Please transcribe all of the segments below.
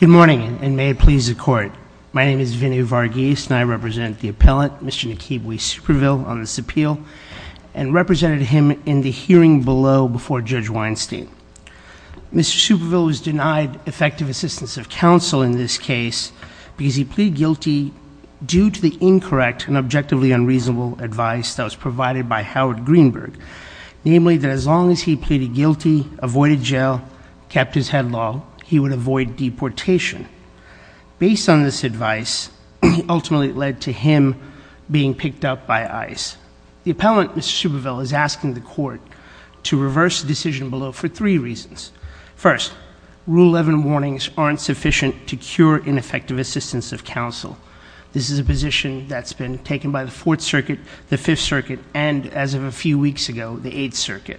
Good morning, and may it please the Court. My name is Vinnie Varghese, and I represent the appellant, Mr. Nakibwe Superville, on this appeal, and represented him in the hearing below before Judge Weinstein. Mr. Superville was denied effective assistance of counsel in this case because he pleaded guilty due to the incorrect and objectively unreasonable advice that was provided by Howard Greenberg, namely that as long as he pleaded guilty, avoided jail, kept his headlong, he would avoid deportation. Based on this advice, ultimately led to him being picked up by ICE. The appellant, Mr. Superville, is asking the Court to reverse the decision below for three reasons. First, Rule 11 warnings aren't sufficient to cure ineffective assistance of counsel. This is a position that's been taken by the Fourth Circuit, the Fifth Circuit, and, as of a few weeks ago, the Eighth Circuit.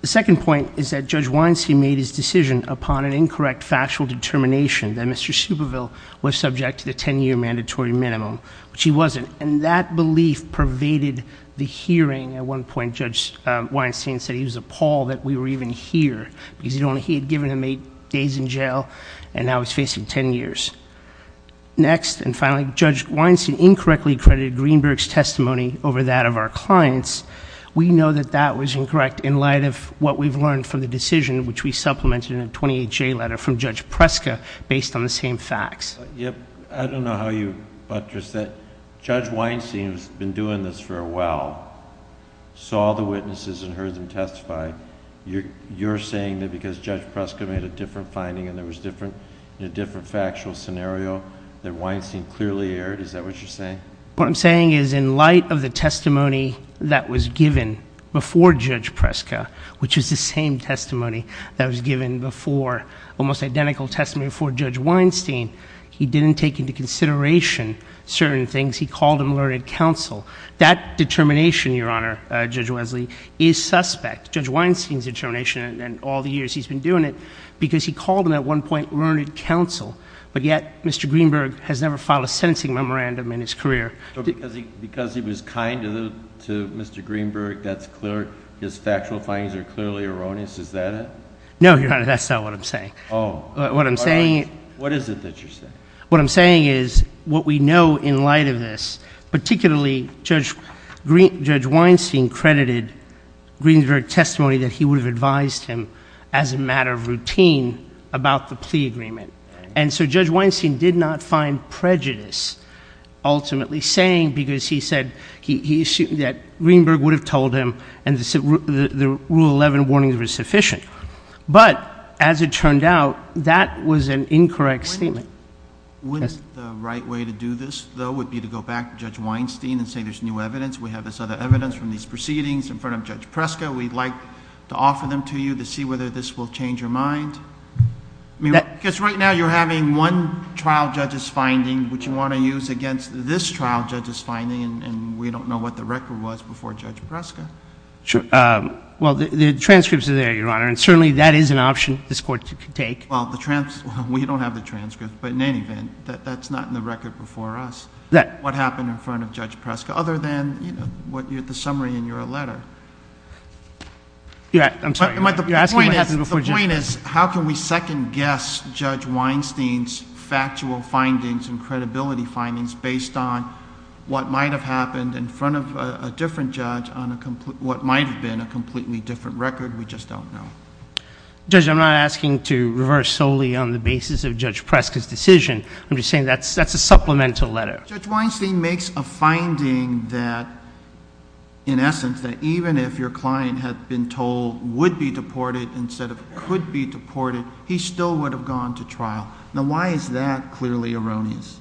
The second point is that Judge Weinstein made his decision upon an incorrect factual determination that Mr. Superville was subject to the 10-year mandatory minimum, which he wasn't. And that belief pervaded the hearing. At one point, Judge Weinstein said he was appalled that we were even here, because he had given him eight days in jail, and now he's facing ten years. Next, and finally, Judge Weinstein incorrectly accredited Greenberg's testimony over that of our clients. We know that that was incorrect in light of what we've learned from the decision, which we supplemented in a 28-J letter from Judge Preska, based on the same facts. I don't know how you buttressed that. Judge Weinstein, who's been doing this for a while, saw the witnesses and heard them testify. You're saying that because Judge Preska made a different finding and there was a different factual scenario, that Weinstein clearly erred? Is that what you're saying? What I'm saying is, in light of the testimony that was given before Judge Preska, which is the same testimony that was given before, almost identical testimony before Judge Weinstein, he didn't take into consideration certain things. He called him learned counsel. That determination, Your Honor, Judge Wesley, is suspect. Judge Weinstein's determination, and all the years he's been doing it, because he called him, at one point, learned counsel. But yet, Mr. Greenberg has never filed a sentencing memorandum in his career. So because he was kind to Mr. Greenberg, that's clear. His factual findings are clearly erroneous. Is that it? No, Your Honor, that's not what I'm saying. What is it that you're saying? What I'm saying is, what we know in light of this, particularly Judge Weinstein credited Greenberg testimony that he would have advised him, as a matter of routine, about the plea case. That's what he's saying, because he said that Greenberg would have told him, and the Rule 11 warnings were sufficient. But, as it turned out, that was an incorrect statement. Wouldn't the right way to do this, though, would be to go back to Judge Weinstein and say there's new evidence, we have this other evidence from these proceedings in front of Judge Preska, we'd like to offer them to you to see whether this will change your mind? Because right now, you're having one trial judge's finding, which you want to use against this trial judge's finding, and we don't know what the record was before Judge Preska. Well, the transcripts are there, Your Honor, and certainly that is an option this Court could take. Well, we don't have the transcripts, but in any event, that's not in the record before us, what happened in front of Judge Preska, other than, you know, the summary in your letter. Yeah, I'm sorry. The point is, the point is, how can we second-guess Judge Weinstein's factual findings and credibility findings based on what might have happened in front of a different judge on what might have been a completely different record? We just don't know. Judge, I'm not asking to reverse solely on the basis of Judge Preska's decision. I'm just saying that's a supplemental letter. Judge Weinstein makes a finding that, in essence, that even if your client had been told would be deported instead of could be deported, he still would have gone to trial. Now, why is that clearly erroneous?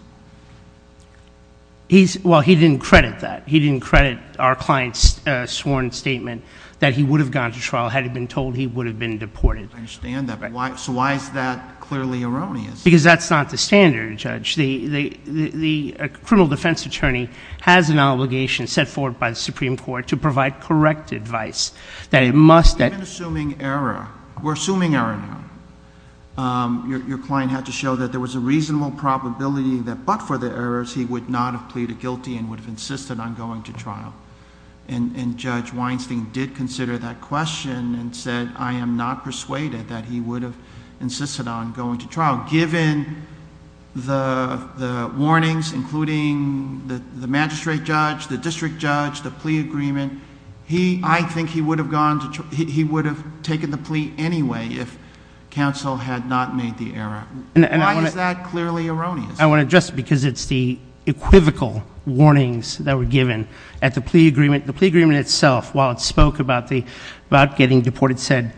He's, well, he didn't credit that. He didn't credit our client's sworn statement that he would have gone to trial had he been told he would have been deported. I understand that. So why is that clearly erroneous? Because that's not the standard, Judge. The criminal defense attorney has an obligation set forth by the Supreme Court to provide correct advice. That it must... We've been assuming error. We're assuming error now. Your client had to show that there was a reasonable probability that but for the errors, he would not have pleaded guilty and would have insisted on going to trial. Judge Weinstein did consider that question and said, I am not persuaded that he would have insisted on going to trial, given the warnings, including the magistrate judge, the district judge, the plea agreement. I think he would have gone to... he would have taken the plea anyway if counsel had not made the error. Why is that clearly erroneous? I want to address it because it's the equivocal warnings that were given at the plea agreement. The plea agreement itself, while it spoke about getting deported, said,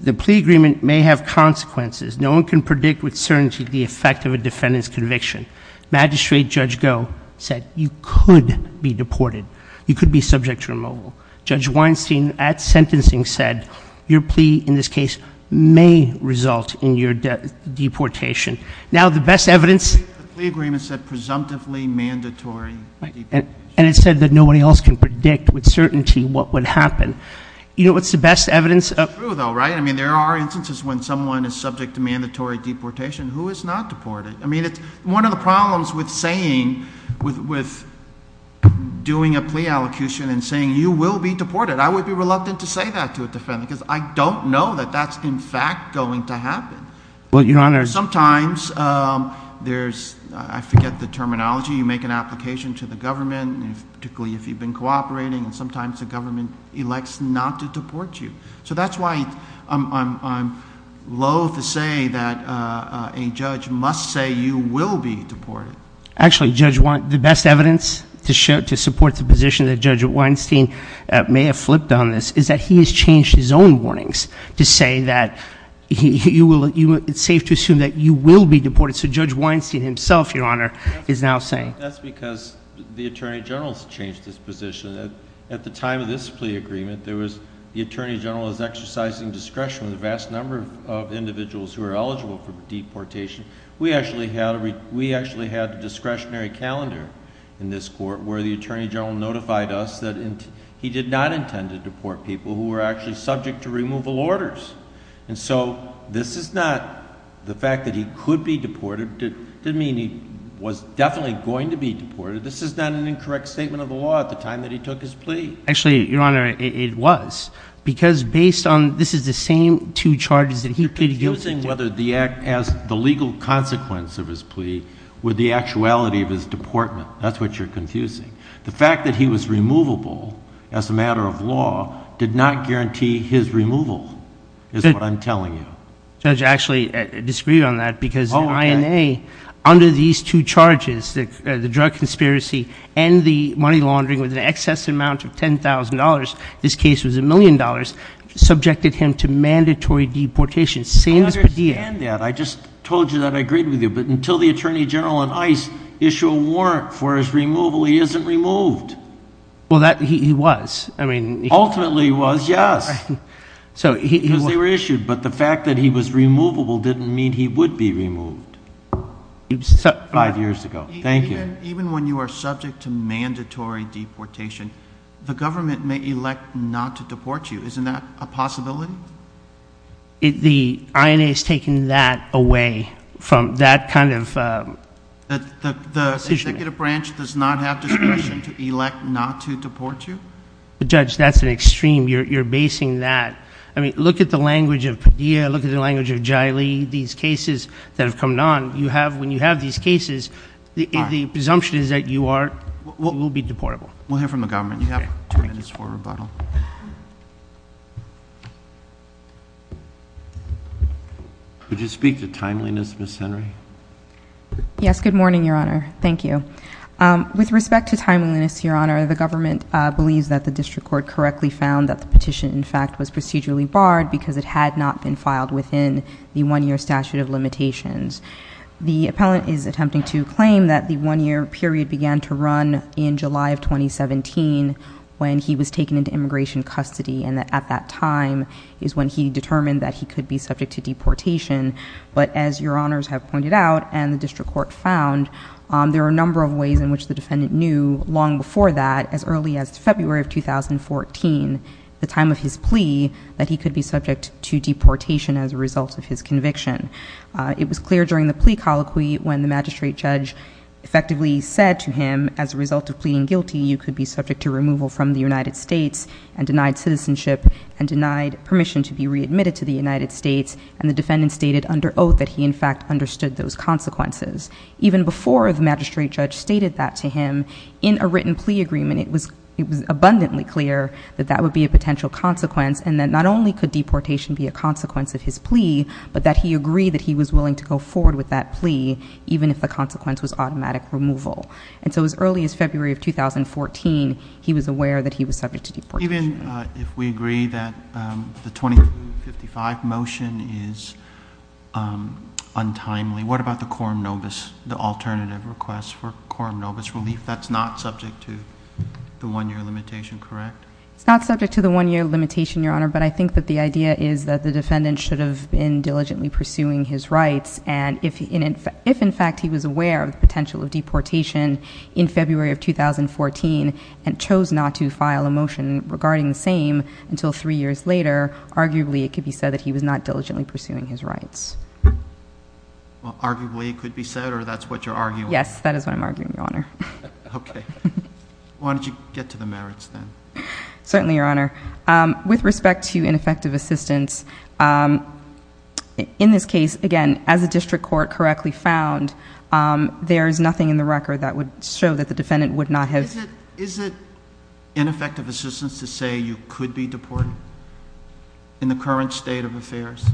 the plea agreement may have consequences. No one can predict with certainty the effect of a defendant's conviction. Magistrate Judge Goh said, you could be deported. You could be subject to removal. Judge Weinstein at sentencing said, your plea in this case may result in your deportation. Now the best evidence... The plea agreement said, presumptively mandatory deportation. And it said that nobody else can predict with certainty what would happen. You know what's the best evidence... It's true though, right? I mean, there are instances when someone is subject to mandatory deportation who is not deported. I mean, it's one of the problems with saying... with doing a plea allocution and saying, you will be deported. I would be reluctant to say that to a defendant because I don't know that that's in fact going to happen. Well, Your Honor... Sometimes there's... I forget the terminology. You make an application to the government, particularly if you've been cooperating, and sometimes the government elects not to deport you. So that's why I'm loathe to say that a judge must say, you will be deported. Actually, Judge Wein... the best evidence to support the position that Judge Weinstein may have flipped on this is that he has changed his own warnings to say that you will... it's safe to assume that you will be deported. So Judge Weinstein himself, Your Honor, is now saying... That's because the Attorney General has changed his position. At the time of this plea agreement, there was... the Attorney General is exercising discretion with a vast number of individuals who are eligible for deportation. We actually had a discretionary calendar in this court where the Attorney General notified us that he did not intend to deport people who were actually subject to removal orders. And so, this is not... the fact that he could be deported didn't mean he was definitely going to be deported. This is not an incorrect statement of the law at the time that he took his plea. Actually, Your Honor, it was. Because based on... this is the same two charges that he... You're confusing whether the act... the legal consequence of his plea with the actuality of his deportment. That's what you're confusing. The fact that he was removable as a matter of law did not guarantee his removal is what I'm telling you. Judge, I actually disagree on that because the INA, under these two charges, the drug conspiracy and the money laundering with an excess amount of $10,000, this case was a million dollars, subjected him to mandatory deportation, same as Padilla. I understand that. I just told you that I agreed with you. But until the Attorney General and ICE issue a warrant for his removal, he isn't removed. Well, he was. I mean... Ultimately, he was. Yes. Because they were issued. But the fact that he was removable didn't mean he would be removed five years ago. Thank you. Even when you are subject to mandatory deportation, the government may elect not to deport you. Isn't that a possibility? The INA has taken that away from that kind of... The executive branch does not have discretion to elect not to deport you? Judge, that's an extreme. You're basing that... I mean, look at the language of Padilla, look at the language of Jaili, these cases that have come on. When you have these cases, the presumption is that you will be deportable. We'll hear from the government. You have two minutes for rebuttal. Would you speak to timeliness, Ms. Henry? Yes. Good morning, Your Honor. Thank you. With respect to timeliness, Your Honor, the government believes that the district court correctly found that the petition, in fact, was procedurally barred because it had not been filed within the one-year statute of limitations. The appellant is attempting to claim that the one-year period began to run in July of 2017 when he was taken into immigration custody, and that at that time is when he determined that he could be subject to deportation. But as Your Honors have pointed out, and the district court found, there are a number of ways in which the defendant knew long before that, as early as February of 2014, the time of his plea, that he could be subject to deportation as a result of his conviction. It was clear during the plea colloquy when the magistrate judge effectively said to him, as a result of pleading guilty, you could be subject to removal from the United States and denied citizenship and denied permission to be readmitted to the United States, and the defendant stated under oath that he, in fact, understood those consequences. Even before the magistrate judge stated that to him, in a written plea agreement, it was a consequence, and that not only could deportation be a consequence of his plea, but that he agreed that he was willing to go forward with that plea, even if the consequence was automatic removal. And so as early as February of 2014, he was aware that he was subject to deportation. Even if we agree that the 2055 motion is untimely, what about the quorum nobis, the alternative request for quorum nobis relief? That's not subject to the one-year limitation, correct? It's not subject to the one-year limitation, Your Honor, but I think that the idea is that the defendant should have been diligently pursuing his rights, and if, in fact, he was aware of the potential of deportation in February of 2014 and chose not to file a motion regarding the same until three years later, arguably, it could be said that he was not diligently pursuing his rights. Well, arguably, it could be said, or that's what you're arguing? Yes, that is what I'm arguing, Your Honor. Okay. Why don't you get to the merits, then? Certainly, Your Honor. With respect to ineffective assistance, in this case, again, as the district court correctly found, there is nothing in the record that would show that the defendant would not have— Is it ineffective assistance to say you could be deported in the current state of affairs?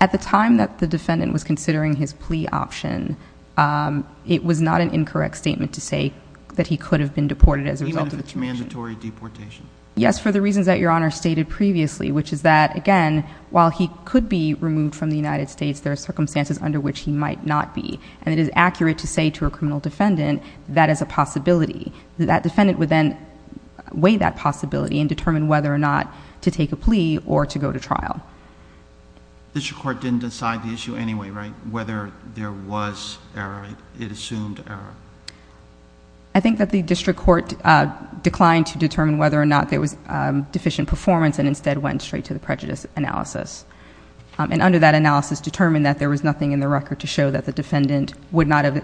At the time that the defendant was considering his plea option, it was not an incorrect statement to say that he could have been deported as a result of deportation. Even if it's mandatory deportation? Yes, for the reasons that Your Honor stated previously, which is that, again, while he could be removed from the United States, there are circumstances under which he might not be, and it is accurate to say to a criminal defendant that is a possibility. That defendant would then weigh that possibility and determine whether or not to take a plea or to go to trial. District court didn't decide the issue anyway, right? Whether there was error, it assumed error. I think that the district court declined to determine whether or not there was deficient performance and instead went straight to the prejudice analysis, and under that analysis determined that there was nothing in the record to show that the defendant would have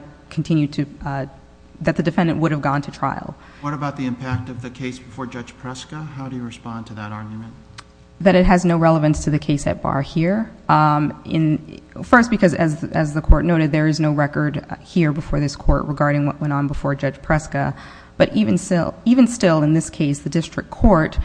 gone to trial. What about the impact of the case before Judge Preska? How do you respond to that argument? That it has no relevance to the case at bar here. First, because as the court noted, there is no record here before this court regarding what went on before Judge Preska, but even still in this case, the district court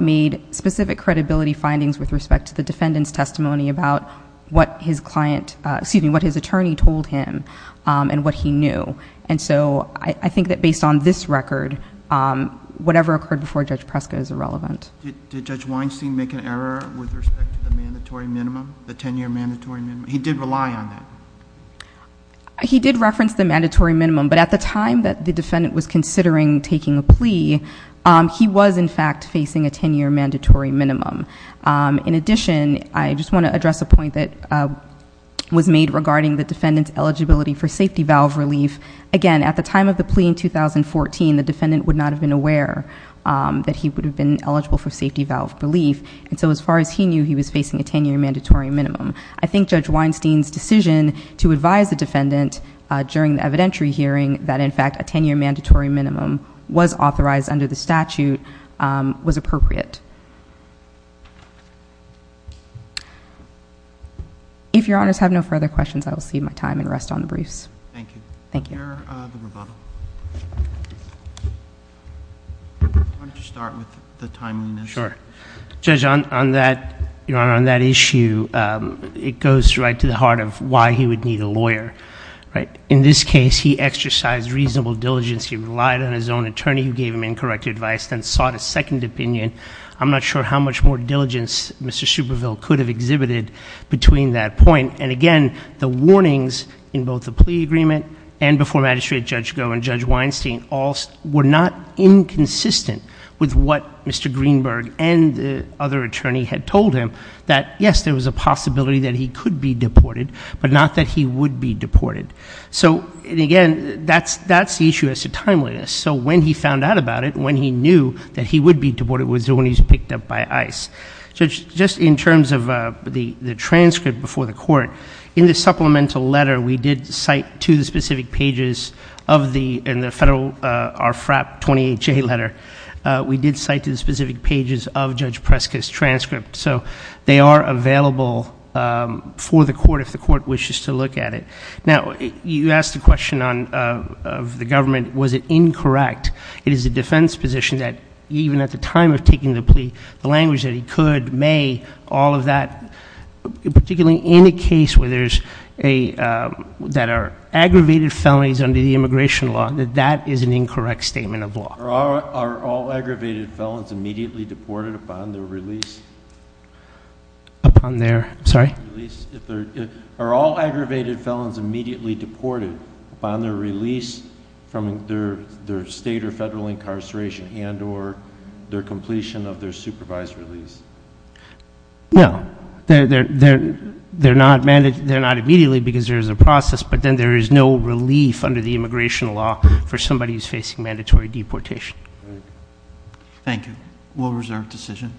made specific credibility findings with respect to the defendant's testimony about what his client... excuse me, what his attorney told him and what he knew. I think that based on this record, whatever occurred before Judge Preska is irrelevant. Did Judge Weinstein make an error with respect to the mandatory minimum, the ten-year mandatory minimum? He did rely on that. He did reference the mandatory minimum, but at the time that the defendant was considering taking a plea, he was in fact facing a ten-year mandatory minimum. In addition, I just want to address a point that was made regarding the defendant's eligibility for safety valve relief. Again, at the time of the plea in 2014, the defendant would not have been aware that he would have been eligible for safety valve relief, and so as far as he knew, he was facing a ten-year mandatory minimum. I think Judge Weinstein's decision to advise the defendant during the evidentiary hearing that in fact a ten-year mandatory minimum was authorized under the statute was appropriate. If your honors have no further questions, I will cede my time and rest on the briefs. Thank you. Thank you. Where are the rebuttals? Why don't you start with the timeliness? Sure. Judge, on that issue, it goes right to the heart of why he would need a lawyer. In this case, he exercised reasonable diligence. He relied on his own attorney who gave him incorrect advice, then sought a second opinion. I'm not sure how much more diligence Mr. Superville could have exhibited between that point, and before Magistrate Judge Goh and Judge Weinstein, all were not inconsistent with what Mr. Greenberg and the other attorney had told him, that yes, there was a possibility that he could be deported, but not that he would be deported. So again, that's the issue as to timeliness. So when he found out about it, when he knew that he would be deported, was when he was picked up by ICE. Just in terms of the transcript before the court, in the supplemental letter we did cite to the specific pages of the, in the federal, our FRAP 28-J letter, we did cite to the specific pages of Judge Preska's transcript. So they are available for the court if the court wishes to look at it. Now, you asked the question of the government, was it incorrect, it is the defense position that even at the time of taking the plea, the language that he could, may, all of that, particularly in a case where there's a, that are aggravated felonies under the immigration law, that that is an incorrect statement of law. Are all aggravated felons immediately deported upon their release? Upon their, sorry? Are all aggravated felons immediately deported upon their release from their state or federal incarceration and or their completion of their supervised release? No, they're not immediately because there's a process, but then there is no relief under the immigration law for somebody who's facing mandatory deportation. Thank you. Will reserve decision.